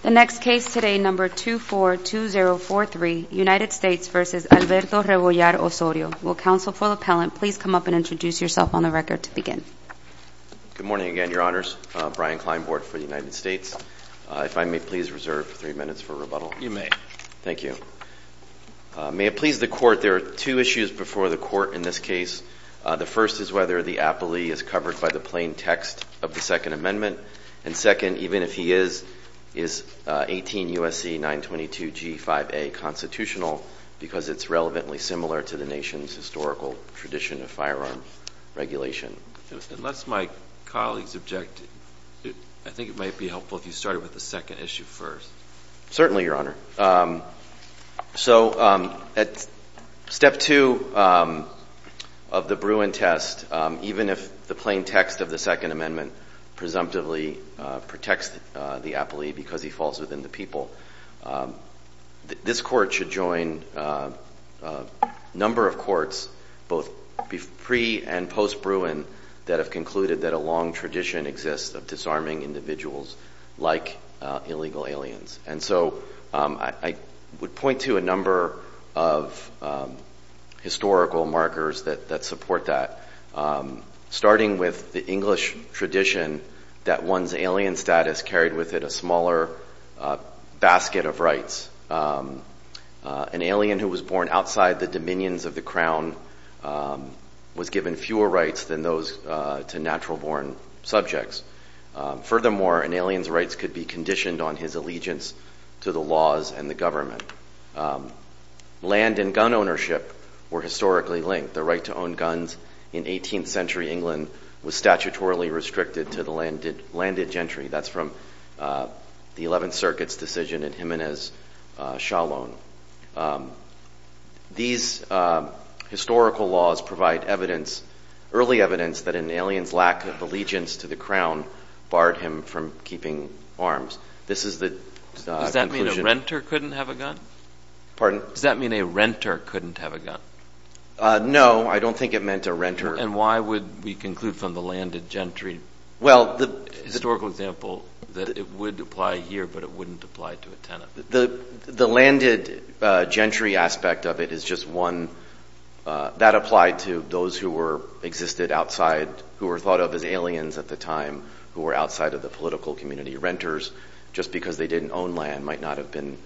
The next case today, number 242043, United States v. Alberto Rebollar Osorio. Will counsel for the appellant please come up and introduce yourself on the record to begin. Good morning again, your honors. Brian Kleinbord for the United States. If I may please reserve three minutes for rebuttal. You may. Thank you. May it please the court, there are two issues before the court in this case. The first is whether the appellee is covered by the plain text of the Second Amendment. And second, even if he is, is 18 U.S.C. 922 G5A constitutional because it's relevantly similar to the nation's historical tradition of firearm regulation. Unless my colleagues object, I think it might be helpful if you started with the second issue first. Certainly, your honor. So at step two of the Bruin test, even if the plain text of the Second Amendment presumptively protects the appellee because he falls within the people. This court should join a number of courts, both pre and post Bruin, that have concluded that a long tradition exists of disarming individuals like illegal aliens. And so I would point to a number of historical markers that support that. Starting with the English tradition that one's alien status carried with it a smaller basket of rights. An alien who was born outside the dominions of the crown was given fewer rights than those to natural born subjects. Furthermore, an alien's rights could be conditioned on his allegiance to the laws and the government. Land and gun ownership were historically linked. The right to own guns in 18th century England was statutorily restricted to the landed gentry. That's from the 11th Circuit's decision in Jimenez, Shalom. These historical laws provide evidence, early evidence, that an alien's lack of allegiance to the crown barred him from keeping arms. This is the conclusion. Does that mean a renter couldn't have a gun? Pardon? Does that mean a renter couldn't have a gun? No, I don't think it meant a renter. And why would we conclude from the landed gentry historical example that it would apply here but it wouldn't apply to a tenant? The landed gentry aspect of it is just one. That applied to those who existed outside, who were thought of as aliens at the time, who were outside of the political community. Renters, just because they didn't own land, might not have been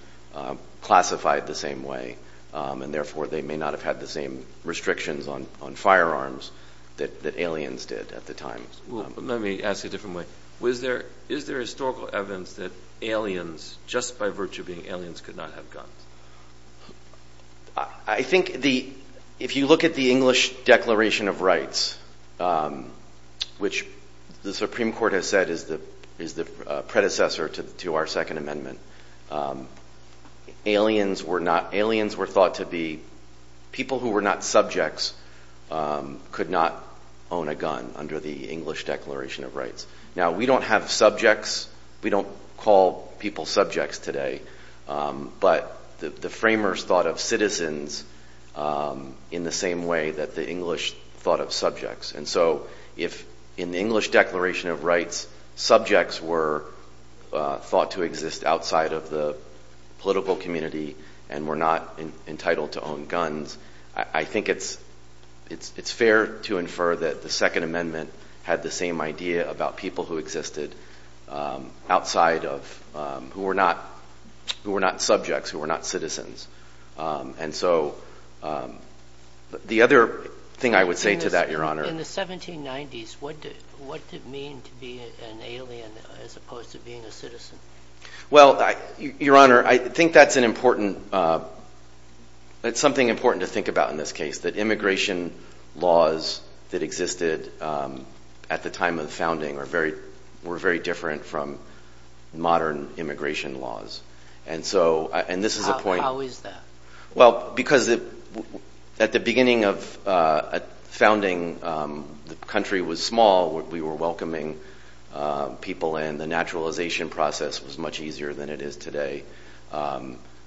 classified the same way. And therefore, they may not have had the same restrictions on firearms that aliens did at the time. Let me ask a different way. Is there historical evidence that aliens, just by virtue of being aliens, could not have guns? I think if you look at the English Declaration of Rights, which the Supreme Court has said is the predecessor to our Second Amendment, aliens were thought to be people who were not subjects could not own a gun under the English Declaration of Rights. Now, we don't have subjects, we don't call people subjects today, but the framers thought of citizens in the same way that the English thought of subjects. And so, if in the English Declaration of Rights subjects were thought to exist outside of the political community and were not entitled to own guns, I think it's fair to infer that the Second Amendment had the same idea about people who existed outside of, who were not subjects, who were not citizens. And so, the other thing I would say to that, Your Honor... In the 1790s, what did it mean to be an alien as opposed to being a citizen? Well, Your Honor, I think that's an important, it's something important to think about in this case, that immigration laws that existed at the time of the founding were very different from modern immigration laws. And so, and this is a point... How is that? Well, because at the beginning of founding, the country was small, we were welcoming people and the naturalization process was much easier than it is today.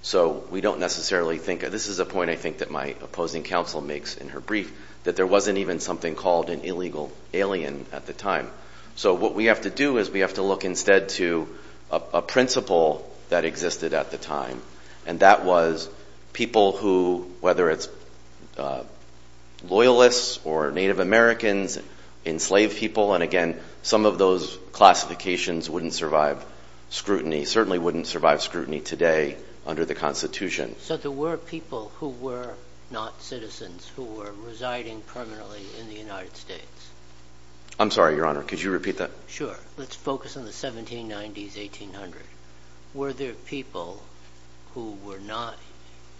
So, we don't necessarily think... This is a point I think that my opposing counsel makes in her brief, that there wasn't even something called an illegal alien at the time. So, what we have to do is we have to look instead to a principle that existed at the time and that was people who, whether it's loyalists or Native Americans, enslaved people, and again, some of those classifications wouldn't survive scrutiny, certainly wouldn't survive scrutiny today under the Constitution. So, there were people who were not citizens, who were residing permanently in the United States? I'm sorry, Your Honor, could you repeat that? Sure. Let's focus on the 1790s, 1800. Were there people who were not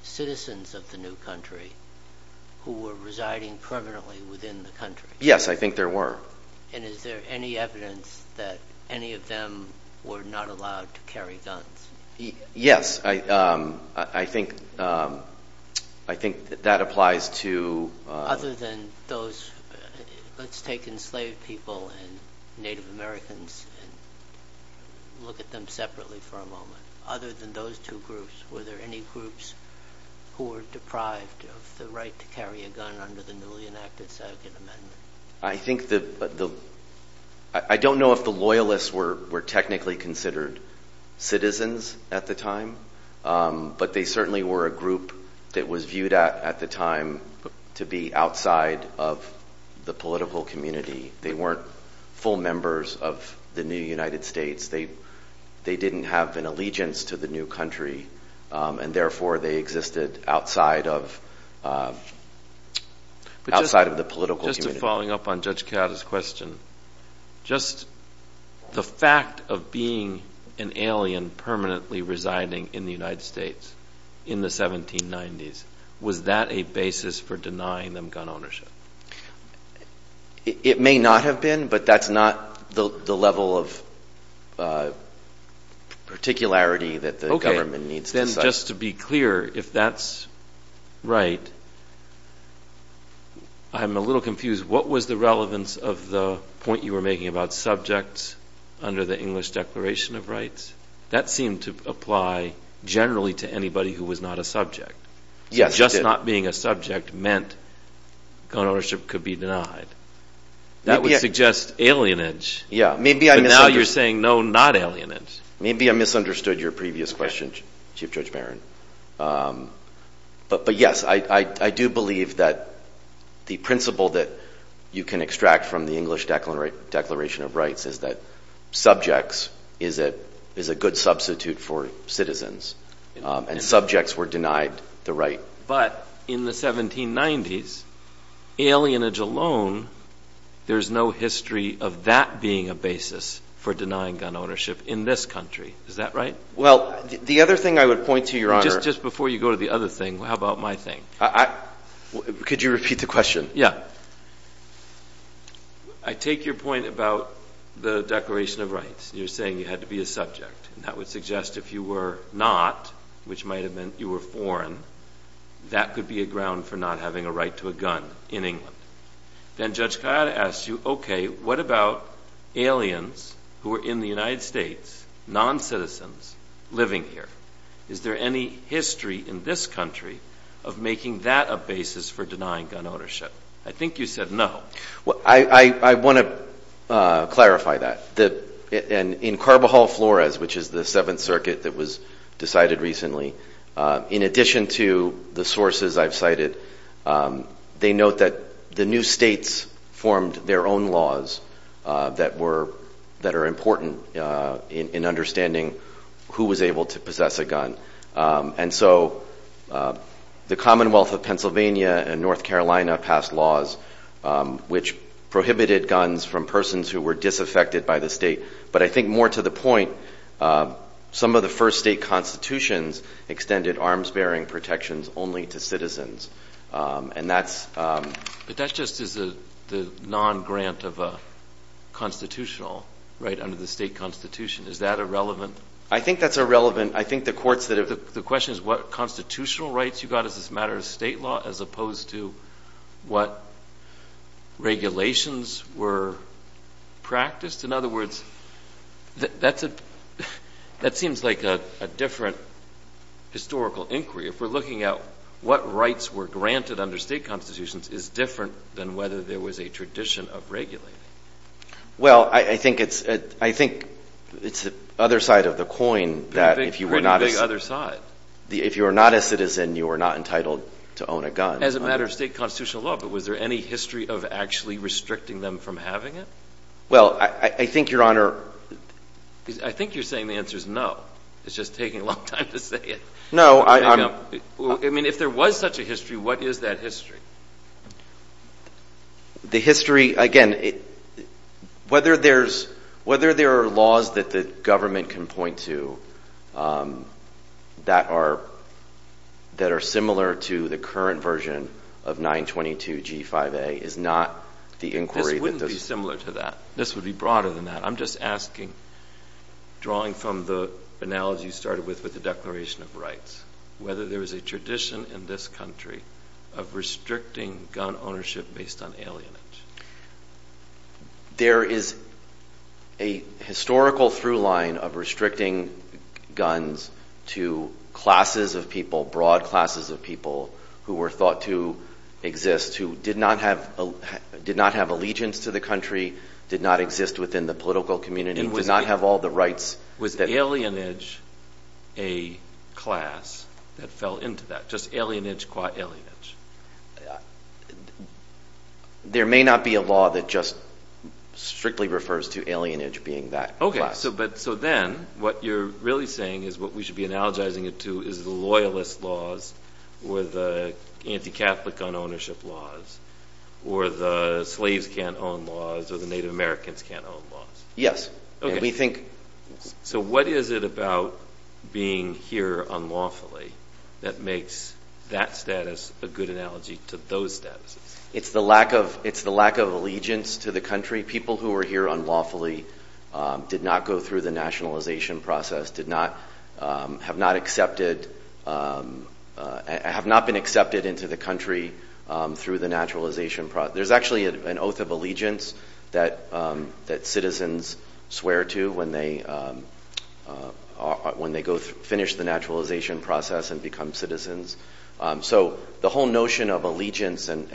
citizens of the new country who were residing permanently within the country? Yes, I think there were. And is there any evidence that any of them were not allowed to carry guns? Yes, I think that applies to... Other than those... Let's take enslaved people and Native Americans and look at them separately for a moment. Other than those two groups, were there any groups who were deprived of the right to carry a gun under the newly enacted Second Amendment? I think the... I don't know if the loyalists were technically considered citizens at the time, but they certainly were a group that was viewed at the time to be outside of the political community. They weren't full members of the new United States. They didn't have an allegiance to the new country, and therefore, they existed outside of the political community. Just to follow up on Judge Kadda's question, just the fact of being an alien permanently residing in the United States in the 1790s, was that a basis for denying them gun ownership? It may not have been, but that's not the level of particularity that the government needs to cite. Okay. Then just to be clear, if that's right, I'm a little confused. What was the relevance of the point you were making about subjects under the English Declaration of Rights? That seemed to apply generally to anybody who was not a subject. Yes, it did. Just not being a subject meant gun ownership could be denied. That would suggest alienage. Yeah. Now you're saying, no, not alienage. Maybe I misunderstood your previous question, Chief Judge Barron. But yes, I do believe that the principle that you can extract from the English Declaration of Rights is that subjects is a good substitute for citizens. And subjects were denied the right. But in the 1790s, alienage alone, there's no history of that being a basis for denying gun ownership in this country. Is that right? Well, the other thing I would point to, Your Honor— Just before you go to the other thing, how about my thing? Could you repeat the question? Yeah. I take your point about the Declaration of Rights. You're saying you had to be a subject. And that would suggest if you were not, which might have meant you were foreign, that could be a ground for not having a right to a gun in England. Then Judge Kayada asked you, okay, what about aliens who are in the United States, non-citizens living here? Is there any history in this country of making that a basis for denying gun ownership? I think you said no. Well, I want to clarify that. In Carbajal Flores, which is the Seventh Circuit that was decided recently, in addition to the sources I've cited, they note that the new states formed their own laws that are important in understanding who was able to possess a gun. And so the Commonwealth of Pennsylvania and North Carolina passed laws which prohibited guns from persons who were disaffected by the state. But I think more to the point, some of the first state constitutions extended arms-bearing protections only to citizens. And that's— But that just is the non-grant of a constitutional, right, under the state constitution. Is that irrelevant? I think that's irrelevant. The question is what constitutional rights you got as a matter of state law as opposed to what regulations were practiced? In other words, that seems like a different historical inquiry. If we're looking at what rights were granted under state constitutions is different than whether there was a tradition of regulating. Well, I think it's the other side of the coin. What do you mean, the other side? If you were not a citizen, you were not entitled to own a gun. As a matter of state constitutional law, but was there any history of actually restricting them from having it? Well, I think, Your Honor— I think you're saying the answer is no. It's just taking a long time to say it. No, I'm— I mean, if there was such a history, what is that history? The history, again, whether there's— whether there are laws that the government can point to that are similar to the current version of 922 G5A is not the inquiry that— This wouldn't be similar to that. This would be broader than that. I'm just asking, drawing from the analogy you started with with the Declaration of Rights, whether there was a tradition in this country of restricting gun ownership based on alienage. There is a historical through-line of restricting guns to classes of people, broad classes of people who were thought to exist, who did not have allegiance to the country, did not exist within the political community, did not have all the rights— Was alienage a class that fell into that? Just alienage qua alienage? There may not be a law that just strictly refers to alienage being that class. Okay, so then what you're really saying is what we should be analogizing it to is the loyalist laws or the anti-Catholic gun ownership laws or the slaves can't own laws or the Native Americans can't own laws. Yes, and we think— So what is it about being here unlawfully that makes that status a good analogy to those statuses? It's the lack of allegiance to the country. People who were here unlawfully did not go through the nationalization process, did not—have not accepted— have not been accepted into the country through the naturalization process. There's actually an oath of allegiance that citizens swear to when they finish the naturalization process and become citizens. So the whole notion of allegiance and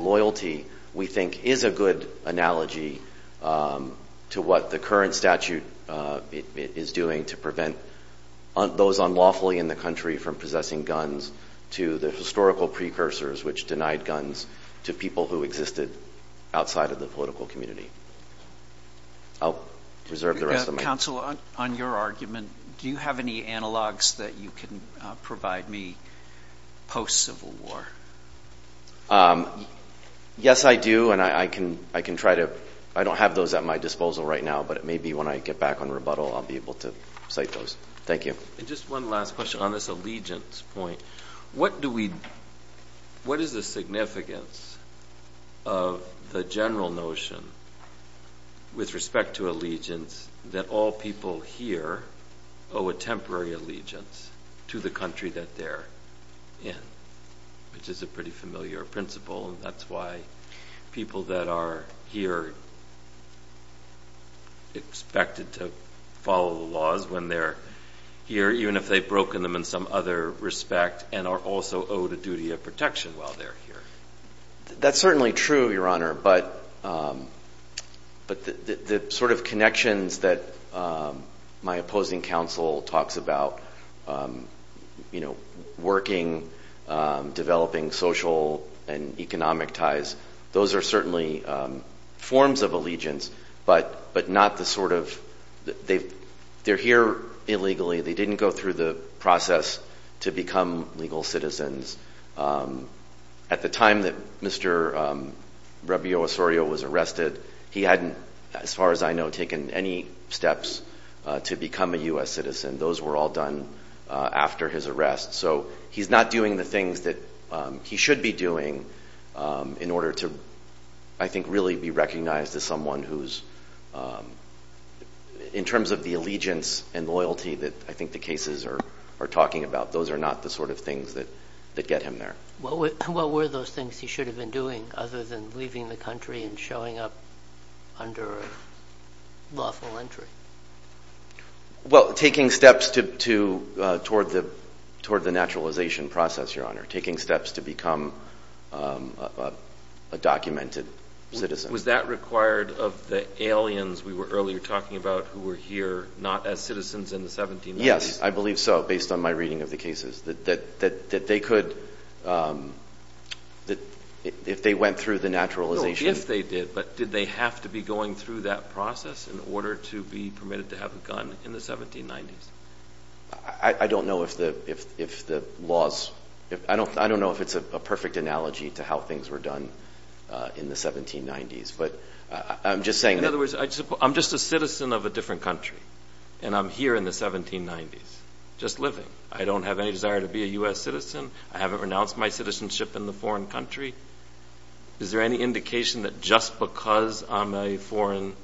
loyalty we think is a good analogy to what the current statute is doing to prevent those unlawfully in the country from possessing guns to the historical precursors which denied guns to people who existed outside of the political community. I'll reserve the rest of my— Counsel, on your argument, do you have any analogs that you can provide me post-Civil War? Yes, I do, and I can try to— I don't have those at my disposal right now, but it may be when I get back on rebuttal I'll be able to cite those. Thank you. And just one last question. On this allegiance point, what is the significance of the general notion with respect to allegiance that all people here owe a temporary allegiance to the country that they're in, which is a pretty familiar principle and that's why people that are here expected to follow the laws when they're here, even if they've broken them in some other respect and are also owed a duty of protection while they're here. That's certainly true, Your Honor, but the sort of connections that my opposing counsel talks about, you know, working, developing social and economic ties, those are certainly forms of allegiance, but not the sort of— they're here illegally, they didn't go through the process to become legal citizens. At the time that Mr. Rabio Osorio was arrested, he hadn't, as far as I know, taken any steps to become a U.S. citizen. Those were all done after his arrest. So he's not doing the things that he should be doing in order to, I think, really be recognized as someone who's— in terms of the allegiance and loyalty that I think the cases are talking about, those are not the sort of things that get him there. What were those things he should have been doing other than leaving the country and showing up under lawful entry? Well, taking steps toward the naturalization process, Your Honor. Taking steps to become a documented citizen. Was that required of the aliens we were earlier talking about who were here, not as citizens in the 1790s? Yes, I believe so, based on my reading of the cases. That they could— if they went through the naturalization— No, if they did, but did they have to be going through that process in order to be permitted to have a gun in the 1790s? I don't know if the laws— I don't know if it's a perfect analogy to how things were done in the 1790s, but I'm just saying— In other words, I'm just a citizen of a different country, and I'm here in the 1790s, just living. I don't have any desire to be a U.S. citizen. I haven't renounced my citizenship in the foreign country. Is there any indication that just because I'm a foreign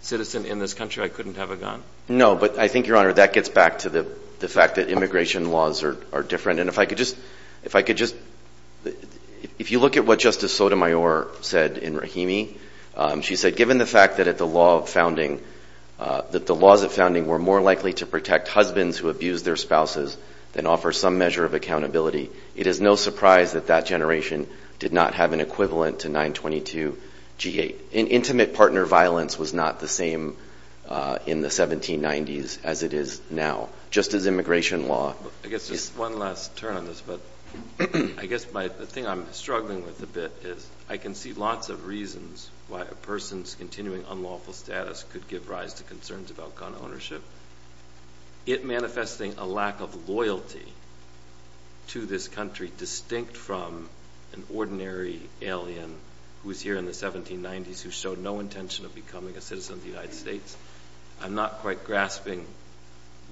citizen in this country, I couldn't have a gun? No, but I think, Your Honor, that gets back to the fact that immigration laws are different, and if I could just— If I could just— If you look at what Justice Sotomayor said in Rahimi, she said, given the fact that the laws of founding were more likely to protect husbands who abused their spouses than offer some measure of accountability, it is no surprise that that generation did not have an equivalent to 922 G-8. Intimate partner violence was not the same in the 1790s as it is now. Just as immigration law— I guess just one last turn on this, but I guess the thing I'm struggling with a bit is I can see lots of reasons why a person's continuing unlawful status could give rise to concerns about gun ownership. It manifesting a lack of loyalty to this country distinct from an ordinary alien who is here in the 1790s who showed no intention of becoming a citizen of the United States. I'm not quite grasping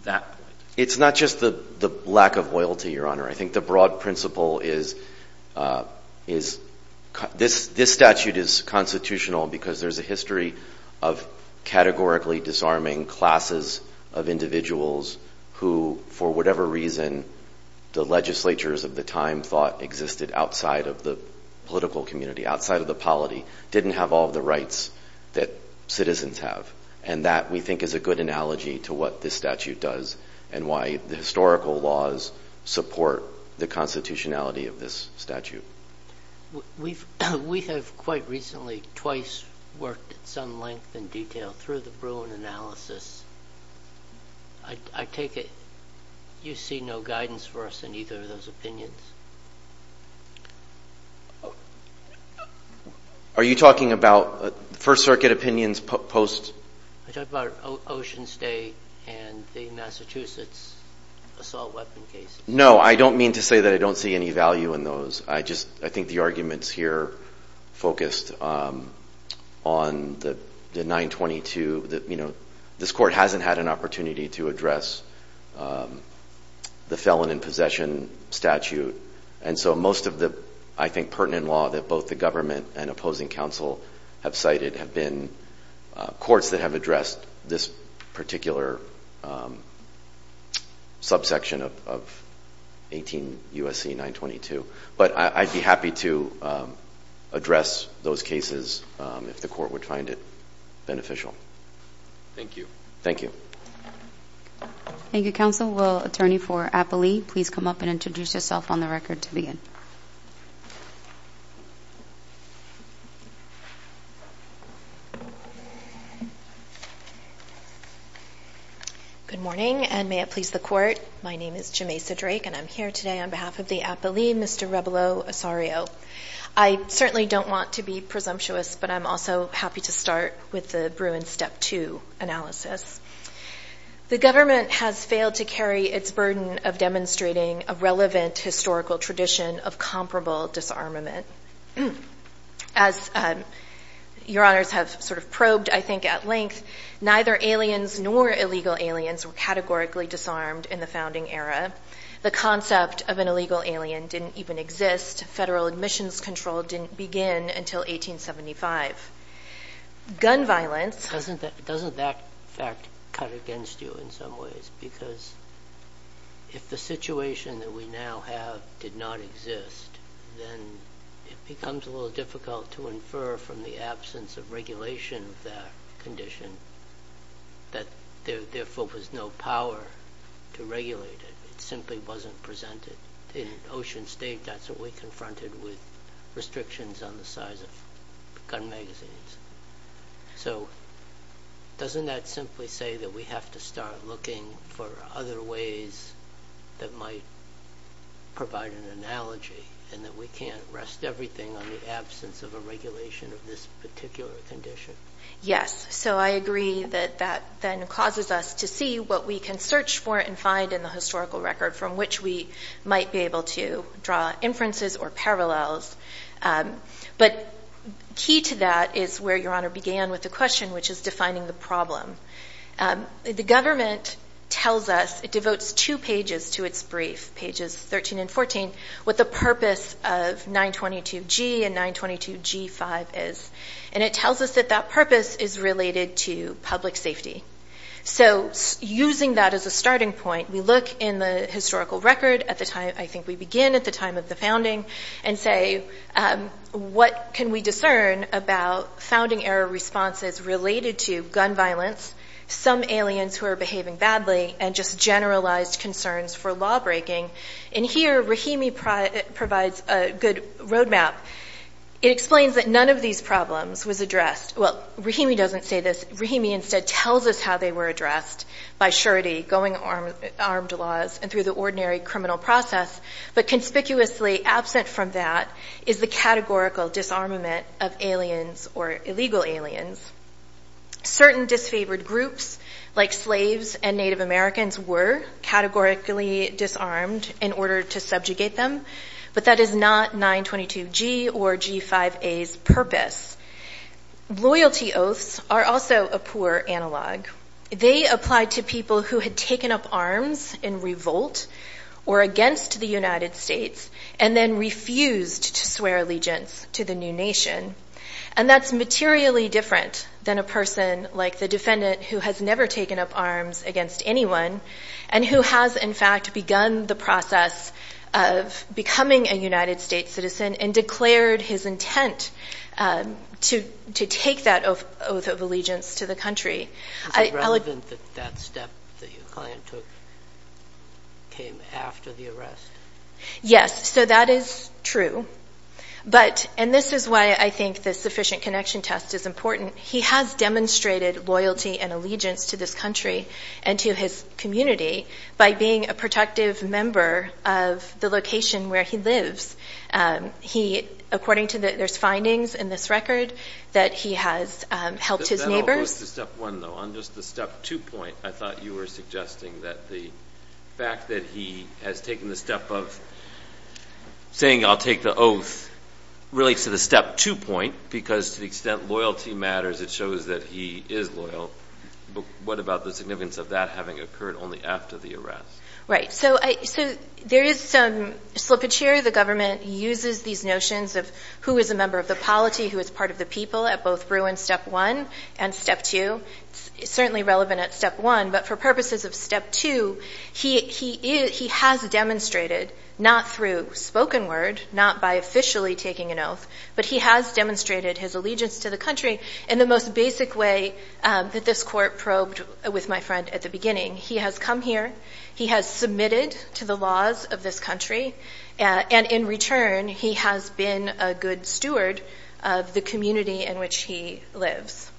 that point. It's not just the lack of loyalty, Your Honor. I think the broad principle is this statute is constitutional because there's a history of categorically disarming classes of individuals who, for whatever reason, the legislatures of the time thought existed outside of the political community, outside of the polity, didn't have all the rights that citizens have. That, we think, is a good analogy to what this statute does and why the historical laws support the constitutionality of this statute. We have quite recently twice worked at some length and detail through the Bruin analysis. I take it you see no guidance for us in either of those opinions. Are you talking about First Circuit opinions post... I'm talking about Ocean State and the Massachusetts assault weapon case. No, I don't mean to say that I don't see any value in those. I think the arguments here focused on the 922 that, you know, this court hasn't had an opportunity to address the felon in possession statute. Most of the, I think, pertinent law that both the government and opposing counsel have cited have been courts that have addressed this particular subsection of 18 USC 922. But I'd be happy to address those cases if the court would find it beneficial. Thank you. Thank you. Thank you, counsel. Will attorney for Applee please come up and introduce yourself on the record to begin. Good morning and may it please the court my name is Jameisa Drake and I'm here today on behalf of the Applee, Mr. Rebolo Osorio. I certainly don't want to be presumptuous, but I'm also happy to start with the Bruins Step 2 analysis. The government has failed to carry its burden of demonstrating a relevant historical tradition of comparable disarmament. As your honors have sort of probed I think at length, neither aliens nor illegal aliens were categorically disarmed in the founding era. The concept of an illegal alien didn't even exist. Federal admissions control didn't begin until 1875. Gun violence... Doesn't that fact cut against you in some ways? Because if the situation that we now have did not exist then it becomes a little difficult to infer from the absence of regulation of that condition that there therefore was no power to regulate it. It simply wasn't presented. In an ocean state that's what we confronted with restrictions on the size of gun magazines. So doesn't that simply say that we have to start looking for other ways that might provide an analogy and that we can't rest everything on the absence of a regulation of this particular condition? Yes. So I agree that that then causes us to see what we can search for and find in the historical record from which we might be able to draw inferences or parallels. But key to that is where your honor began with the question which is defining the problem. The government tells us it devotes two pages to its brief, pages 13 and 14 what the purpose of 922G and 922G5 is. And it tells us that that purpose is related to So using that as a starting point we look in the historical record at the time I think we begin at the time of the founding and say what can we discern about founding era responses related to gun violence some aliens who are behaving badly and just generalized concerns for law breaking. And here Rahimi provides a good road map. It explains that none of these problems was addressed. Well Rahimi doesn't say Rahimi instead tells us how they were addressed by surety going armed laws and through the ordinary criminal process but conspicuously absent from that is the categorical disarmament of aliens or illegal aliens. Certain disfavored groups like slaves and Native Americans were categorically disarmed in order to subjugate them but that is not 922G or G5A's purpose. Loyalty oaths are also a poor analog. They apply to people who had taken up arms in revolt or against the United States and then refused to swear allegiance to the new nation and that's materially different than a person like the defendant who has never taken up arms against anyone and who has in fact begun the process of becoming a United States citizen and declared his intent to take that oath of allegiance to the country. Is it relevant that that step that your client took came after the arrest? Yes, so that is true but and this is why I think the sufficient connection test is important he has demonstrated loyalty and allegiance to this country and to his community by being a protective member of the location where he lives. He, according to there's findings in this record that he has helped his neighbors. That all goes to step one though, on just the step two point I thought you were suggesting that the fact that he has taken the step of saying I'll take the oath relates to the step two point because to the extent loyalty matters it shows that he is loyal but what about the significance of that having occurred only after the arrest? Right, so there is some slippage here. The government uses these notions of who is a member of the polity, who is part of the people at both Bruin step one and step two. It's certainly relevant at step one but for purposes of step two he has demonstrated, not through spoken word, not by officially taking an oath, but he has demonstrated his allegiance to the country in the most basic way that this court probed with my friend at the beginning. He has come here, he has submitted to the laws of this country and in return he has been a good steward of the community in which he lives.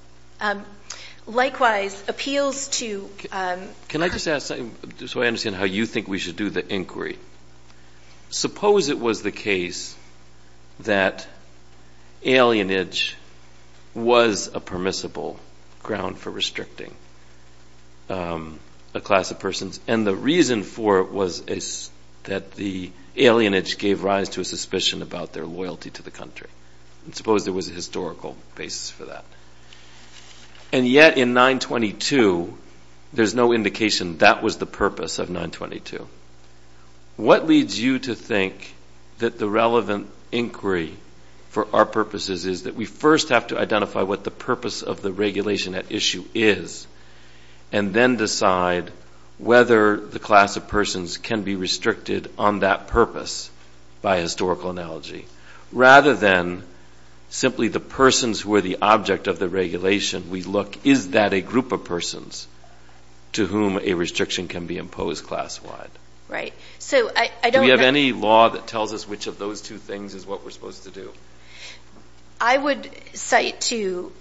Likewise, appeals to Can I just ask so I understand how you think we should do the inquiry. Suppose it was the case that alienage was a permissible ground for restricting a class of persons and the reason for it was that the alienage gave rise to a suspicion about their loyalty to the country. Suppose there was a historical basis for that. And yet in 922 there is no indication that was the purpose of 922. What leads you to think that the relevant inquiry for our purposes is that we first have to identify what the purpose of the regulation at issue is and then decide whether the class of persons can be restricted on that purpose by historical analogy. Rather than simply the persons who are the object of the regulation, we look is that a group of persons to whom a restriction can be imposed class wide. Do we have any law that tells us which of those two things is what we're supposed to do? I would cite to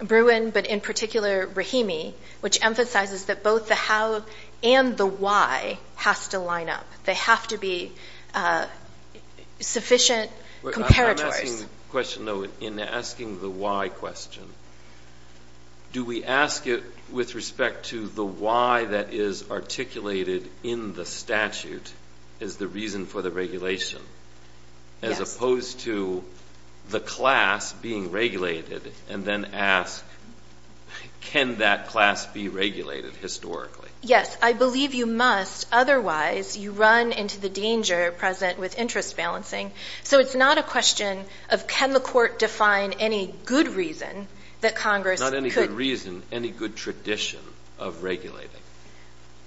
Bruin but in particular Rahimi which emphasizes that both the how and the why has to line up. They have to be sufficient comparators. In asking the why question do we ask it with respect to the why that is articulated in the statute as the reason for the regulation as opposed to the class being regulated and then ask can that class be regulated historically. Yes, I believe you must, otherwise you run into the danger present with interest balancing. So it's not a question of can the court define any good reason that Congress Not any good reason, any good tradition of regulating.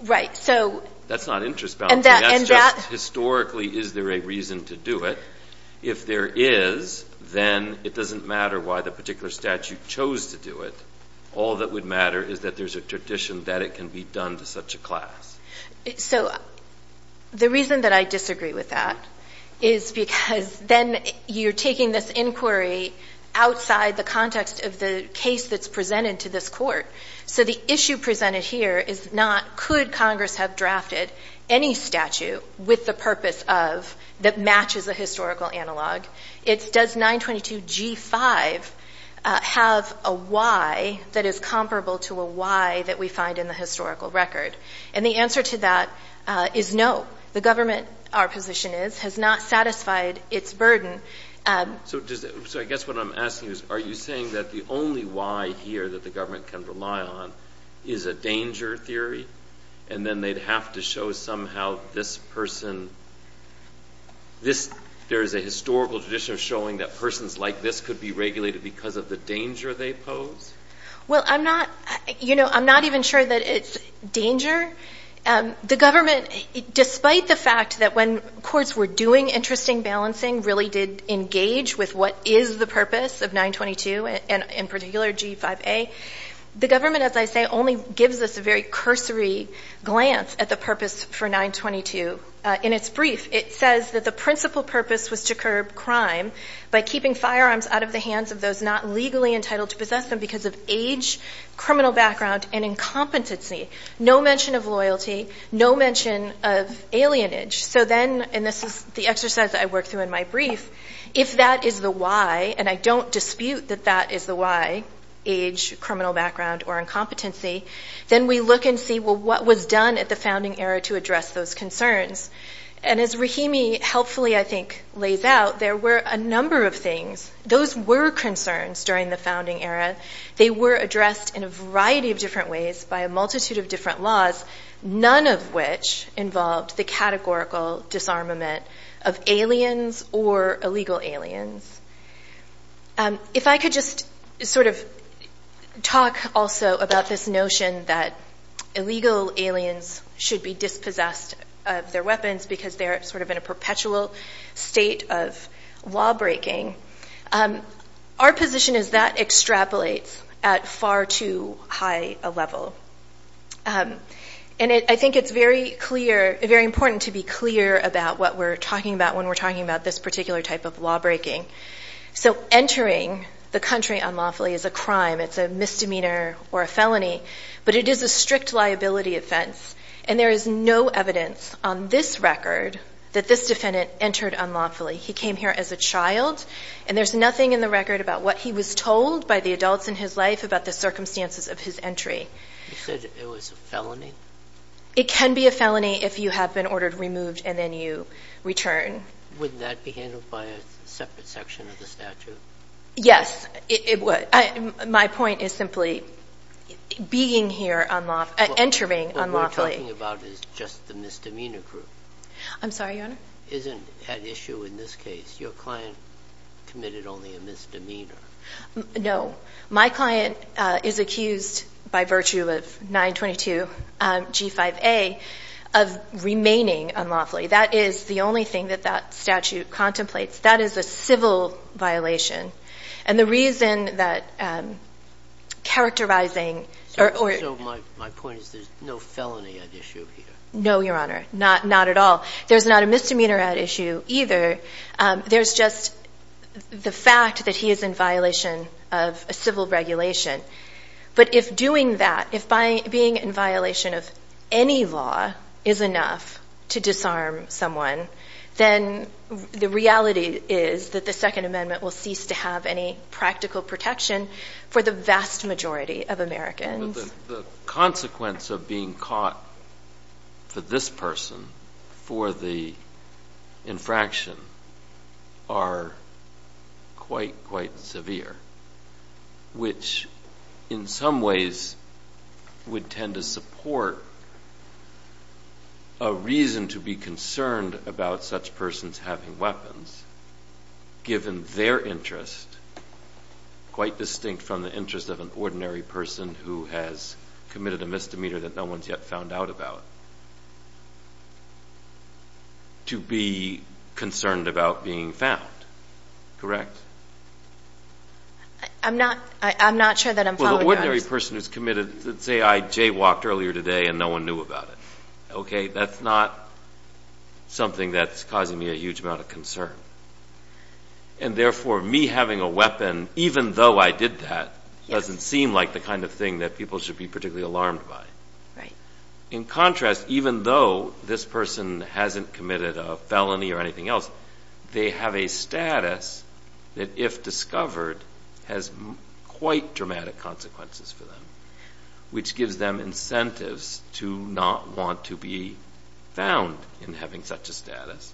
Right, so That's not interest balancing, that's just historically is there a reason to do it. If there is, then it doesn't matter why the particular statute chose to do it. All that would matter is that there's a tradition that it can be done to such a class. So, the reason that I disagree with that is because then you're taking this inquiry outside the context of the case that's presented to this court. So the issue presented here is not could Congress have drafted any statute with the purpose of that matches a historical analog. It's does 922 G5 have a why that is comparable to a why that we find in the historical record. And the answer to that is no. The government our position is has not satisfied its burden. So I guess what I'm asking is are you saying that the only why here that the government can rely on is a danger theory? And then they'd have to show somehow this person this there is a historical tradition of showing that persons like this could be regulated because of the danger they pose? Well, I'm not, you know, I'm not even sure that it's danger. The government, despite the fact that when courts were doing interesting balancing really did engage with what is the purpose of 922 and in particular G5A, the government as I say only gives us a very cursory glance at the purpose for 922. In its brief, it says that the principal purpose was to curb crime by keeping firearms out of the hands of those not legally entitled to possess them because of age, criminal background, and incompetency. No mention of loyalty, no mention of alienage. So then, and this is the exercise I worked through in my brief, if that is the why, and I don't dispute that that is the why, age, criminal background, or incompetency, then we look and see what was done at the founding era to address those concerns. And as Rahimi helpfully, I think, lays out, there were a number of things. Those were concerns during the founding era. They were addressed in a variety of different ways by a multitude of different laws, none of which involved the categorical disarmament of aliens or illegal aliens. If I could just sort of talk also about this notion that illegal aliens should be dispossessed of their weapons because they're sort of in a perpetual state of law breaking. Our position is that extrapolates at far too high a level. And I think it's very clear, very important to be clear about what we're talking about when we're talking about this particular type of law breaking. So entering the country unlawfully is a crime. It's a misdemeanor or a felony. But it is a strict liability offense. And there is no evidence on this record that this defendant entered unlawfully. He came here as a child. And there's nothing in the record about what he was told by the adults in his life about the circumstances of his entry. You said it was a felony? It can be a felony if you have been ordered removed and then you return. Wouldn't that be handled by a separate section of the statute? Yes. My point is simply being here unlawfully, entering unlawfully. What we're talking about is just the misdemeanor group. I'm sorry, Your Honor? Isn't at issue in this case, your client committed only a misdemeanor? No. My client is accused by virtue of 922 G5A of remaining unlawfully. That is the only thing that that statute contemplates. That is a civil violation. And the reason that characterizing So my point is there's no felony at issue here? No, Your Honor. Not at all. There's not a misdemeanor at issue either. There's just the fact that he is in violation of a civil regulation. But if doing that, if being in violation of any law is enough to disarm someone, then the reality is that the Second Amendment will cease to have any practical protection for the vast majority of Americans. The consequence of being caught for this person for the infraction are quite, quite severe, which in some ways would tend to support a reason to be concerned about such persons having weapons given their interest, quite distinct from the interest of an ordinary person who has committed a misdemeanor that no one's yet found out about, to be concerned about being found. Correct? I'm not sure that I'm following that. Well, the ordinary person who's committed, say I jaywalked earlier today and no one knew about it. Okay, that's not something that's causing me a huge amount of concern. And therefore, me having a weapon even though I did that, doesn't seem like the kind of thing that people should be particularly alarmed by. In contrast, even though this person hasn't committed a felony or anything else, they have a status that if discovered has quite dramatic consequences for them, which gives them incentives to not want to be found in having such a status,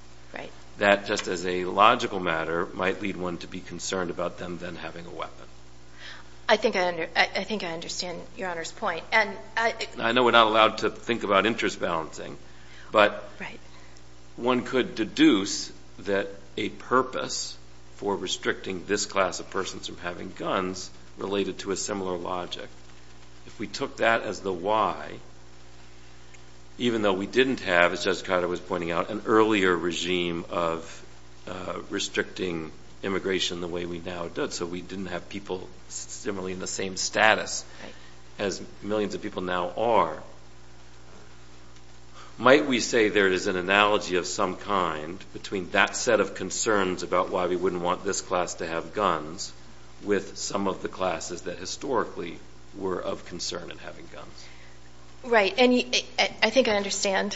that just as a logical matter, might lead one to be concerned about them then having a weapon. I think I understand Your Honor's point. I know we're not allowed to think about interest balancing, but one could deduce that a purpose for restricting this class of persons from having guns, related to a similar logic. If we took that as the why, even though we didn't have, as Judge Cotter was pointing out, an earlier regime of immigration the way we now do, so we didn't have people similarly in the same status as millions of people now are. Might we say there is an analogy of some kind between that set of concerns about why we wouldn't want this class to have guns with some of the classes that historically were of concern in having guns? Right. I think I understand.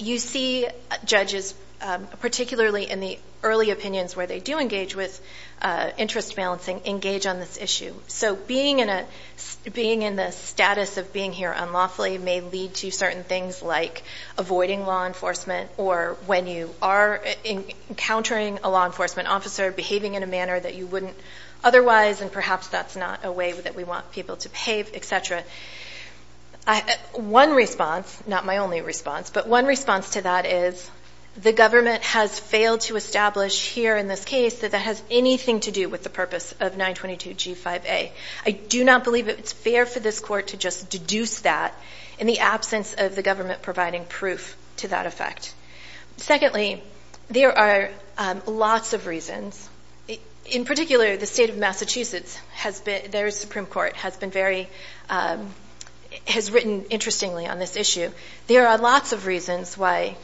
You see judges, particularly in the early opinions where they do engage with interest balancing, engage on this issue. Being in the status of being here unlawfully may lead to certain things like avoiding law enforcement, or when you are encountering a law enforcement officer behaving in a manner that you wouldn't otherwise, and perhaps that's not a way that we want people to behave, etc. One response, not my only response, but one response to that is the government has failed to establish here in this case that that has anything to do with the purpose of 922 G5A. I do not believe it's fair for this court to just deduce that in the absence of the government providing proof to that effect. Secondly, there are lots of reasons. In particular, the state of Massachusetts their Supreme Court has been very has written interestingly on this issue. There are lots of reasons why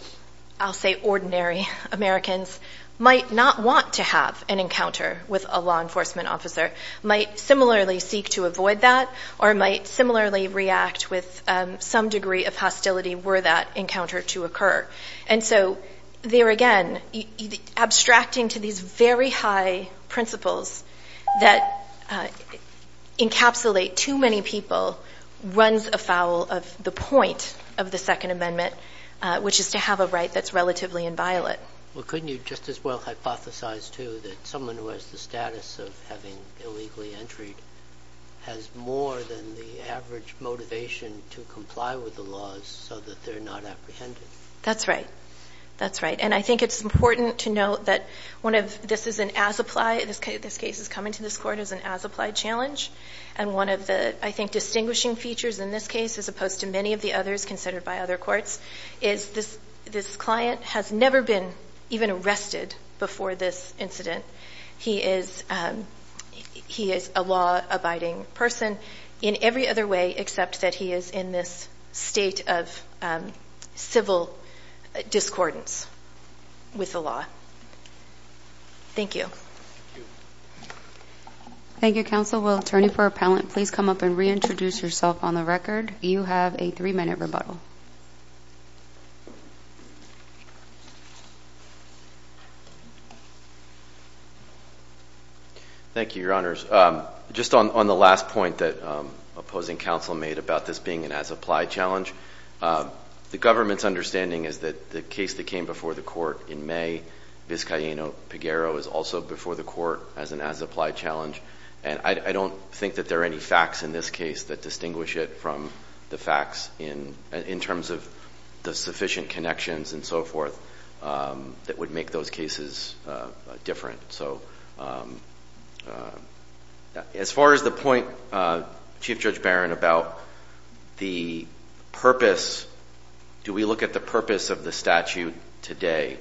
I'll say ordinary Americans might not want to have an encounter with a law enforcement officer, might similarly seek to avoid that, or might similarly react with some degree of hostility were that encounter to occur. And so there again, abstracting to these very high principles that encapsulate too many people runs afoul of the point of the Second Amendment, which is to have a right that's relatively inviolate. Well, couldn't you just as well hypothesize too that someone who has the status of having illegally entered has more than the average motivation to comply with the laws so that they're not apprehended? That's right. And I think it's important to note that this is an as-applied this case is coming to this court as an as-applied challenge, and one of the distinguishing features in this case, as opposed to many of the others considered by other courts, is this client has never been even arrested before this incident. He is a law-abiding person in every other way except that he is in this state of civil discordance with the law. Thank you. Thank you, counsel. Will attorney for Appellant please come up and reintroduce yourself on the record? You have a three-minute rebuttal. Thank you, Your Honors. Just on the last point that opposing counsel made about this being an as-applied challenge, the government's understanding is that the case that came before the court in May, Vizcaíno-Peguero, is also before the court as an as-applied challenge, and I don't think that there are any facts in this case that distinguish it from the facts in terms of the sufficient connections and so forth that would make those cases different. As far as the point Chief Judge Barron about the purpose, do we look at the purpose of the statute today?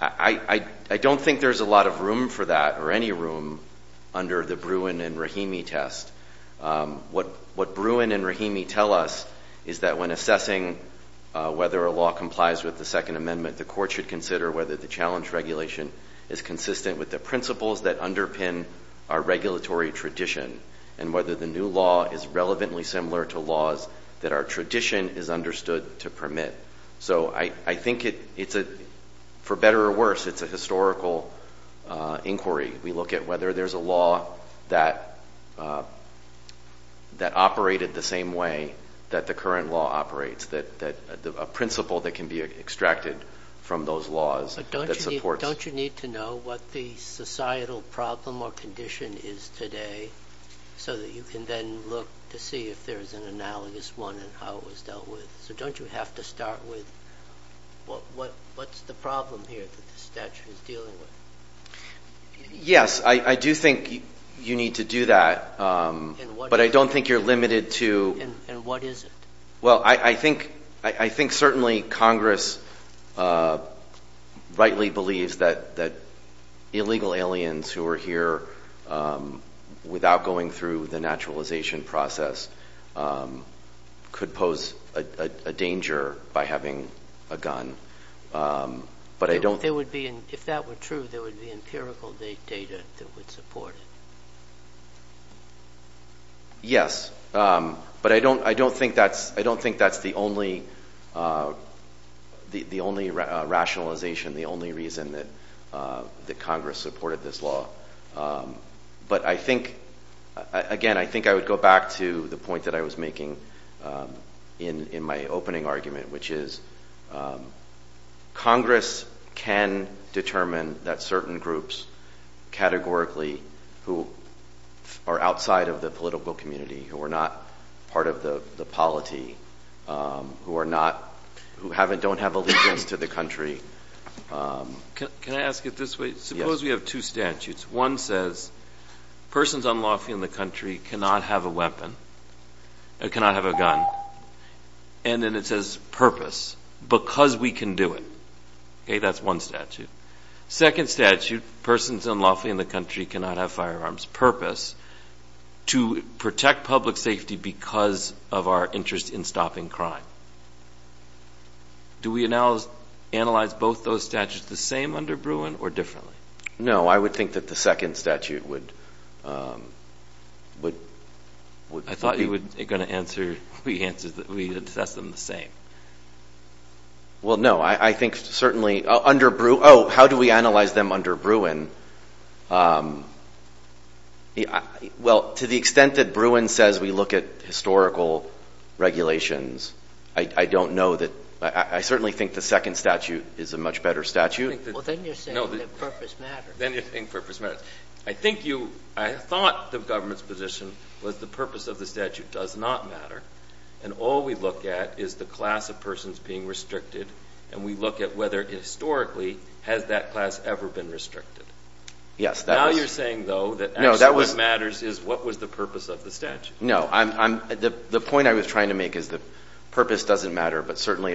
I don't think there's a lot of room for that, or any room under the Bruin and Rahimi test. What Bruin and Rahimi tell us is that when assessing whether a law complies with the Second Amendment, the court should consider whether the challenge regulation is consistent with the principles that underpin our regulatory tradition, and whether the new law is relevantly similar to laws that our tradition is understood to permit. I think for better or worse, it's a historical inquiry. We look at whether there's a law that operated the same way that the current law operates, a principle that can be extracted from those laws. Don't you need to know what the societal problem or condition is today, so that you can then look to see if there's an analogous one and how it was dealt with? Don't you have to start with what's the problem here that the statute is dealing with? Yes, I do think you need to do that, but I don't think you're limited to... And what is it? Well, I think certainly Congress rightly believes that illegal aliens who are here without going through the naturalization process could pose a danger by having a gun. If that were true, there would be empirical data that would support it. Yes, but I don't think that's the only rationalization, the only reason that Congress supported this law. But I think, again, I think I would go back to the point that I was making in my opening argument, which is Congress can determine that certain groups categorically who are outside of the political community, who are not part of the polity, who don't have access to the country. Can I ask it this way? Suppose we have two statutes. One says persons unlawfully in the country cannot have a weapon, cannot have a gun. And then it says purpose, because we can do it. Okay, that's one statute. Second statute, persons unlawfully in the country cannot have firearms. Purpose to protect public safety because of our interest in stopping crime. Do we analyze both those statutes the same under Bruin or differently? No, I would think that the second statute would I thought you were going to answer that we assess them the same. Well, no, I think certainly under Bruin, oh, how do we analyze them under Bruin? Well, to the extent that Bruin says we look at historical regulations, I don't know that, I certainly think the second statute is a much better statute. Well, then you're saying that purpose matters. Then you're saying purpose matters. I think you, I thought the government's position was the purpose of the statute does not matter, and all we look at is the class of persons being restricted, and we look at whether historically has that class ever been restricted. Now you're saying, though, that actually what matters is what was the purpose of the statute. No, the point I was trying to make is that purpose doesn't matter but certainly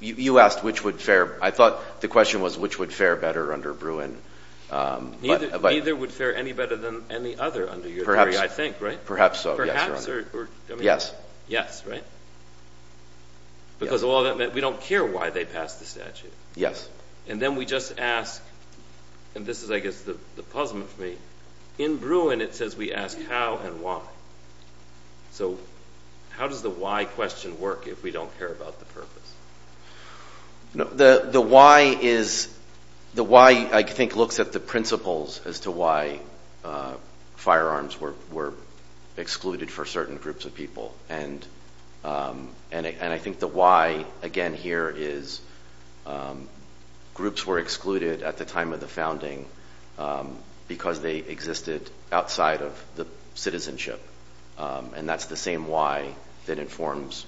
you asked which would fare, I thought the question was which would fare better under Bruin. Neither would fare any better than any other under your theory, I think, right? Perhaps so, yes. Perhaps, or, I mean, yes, right? Because we don't care why they passed the statute. Yes. And then we just ask and this is, I guess, the puzzlement for me, in Bruin it says we ask how and why. So how does the why question work if we don't care about the purpose? The why is, the why, I think looks at the principles as to why firearms were excluded for certain groups of people, and I think the why again here is groups were excluded at the time of the founding because they existed outside of the citizenship and that's the same why that informs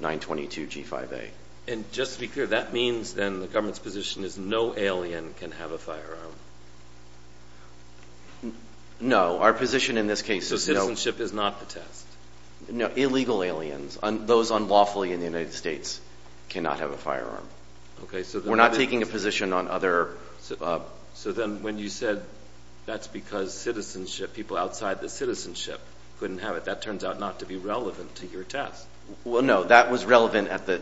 922 G5A. And just to be clear, that means then the government's position is no alien can have a firearm? No. Our position in this case is no. So citizenship is not the test? No. Illegal aliens, those unlawfully in the United States, cannot have a firearm. We're not taking a position on other... So then when you said that's because citizenship, people outside the citizenship couldn't have it, that turns out not to be relevant to your test. Well no, that was relevant at the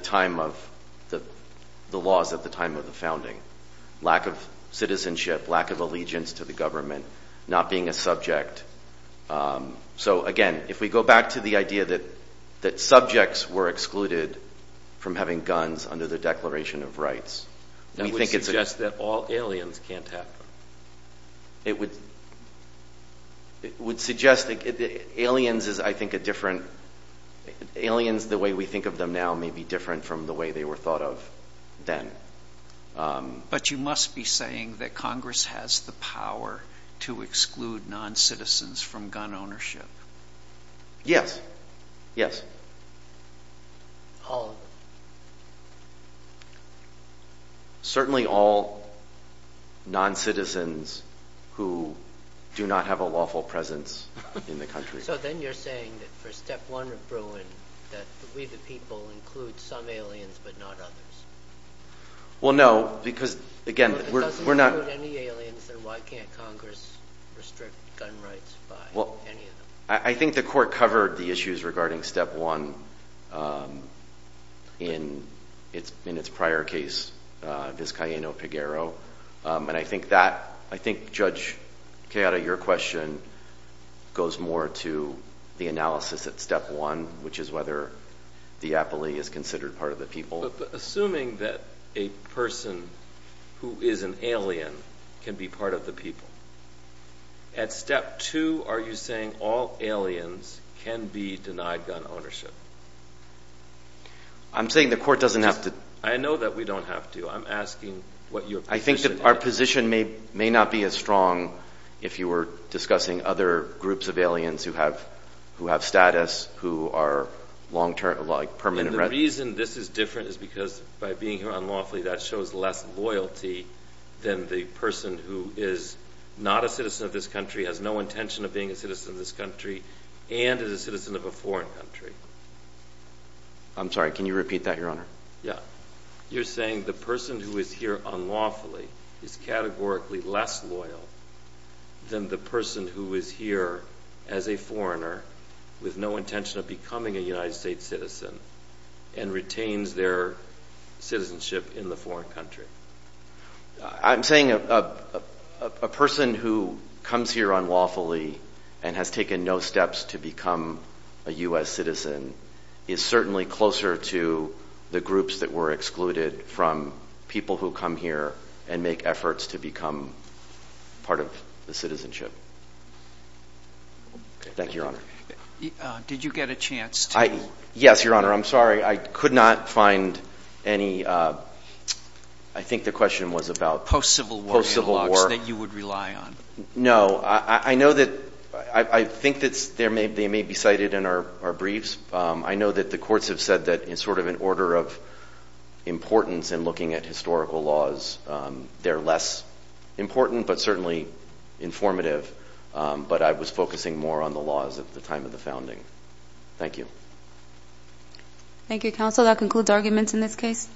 time of the laws at the time of the founding. Lack of citizenship, lack of allegiance to the government, not being a subject. So again, if we go back to the idea that subjects were excluded from having guns under the Declaration of Rights. That would suggest that all aliens can't have them. It would suggest that aliens is I think a different...aliens the way we think of them now may be different from the way they were thought of then. But you must be saying that Congress has the power to exclude non-citizens from gun ownership? Yes. Yes. All of them? Certainly all non-citizens who do not have a lawful presence in the country. So then you're saying that for step one of Bruin that we the people include some aliens but not others? Well no, because again, we're not... If it doesn't include any aliens, then why can't Congress restrict gun rights by any of them? I think the Court covered the issues regarding step one in its prior case Vizcaíno-Peguero and I think that...I think Judge Queira, your question goes more to the analysis at step one, which is whether the Apoly is considered part of the people. Assuming that a person who is an alien can be part of the people, at step two are you saying all aliens can be denied gun ownership? I'm saying the Court doesn't have to... I know that we don't have to. I'm asking what your position is. I think that our position may not be as strong if you were discussing other groups of aliens who have status, who are long-term, like permanent residents. And the reason this is different is because by being here unlawfully, that shows less loyalty than the person who is not a citizen of this country, has no intention of being a citizen of this country, and is a citizen of a foreign country. I'm sorry, can you repeat that, Your Honor? Yeah. You're saying the person who is here unlawfully is categorically less loyal than the person who is here as a foreigner with no intention of becoming a United States citizen and retains their citizenship in the foreign country. I'm saying a person who comes here unlawfully and has taken no steps to become a U.S. citizen is certainly closer to the groups that were excluded from people who come here and make efforts to become part of the citizenship. Thank you, Your Honor. Did you get a chance to... Yes, Your Honor. I'm sorry. I could not find any... I think the question was about... Post-Civil War analogs that you would rely on. No. I know that... I think that they may be cited in our briefs. I know that the courts have said that in sort of an order of importance in looking at historical laws, they're less important but certainly informative. But I was focusing more on the laws at the time of the founding. Thank you. Thank you, Counsel. That concludes arguments in this case.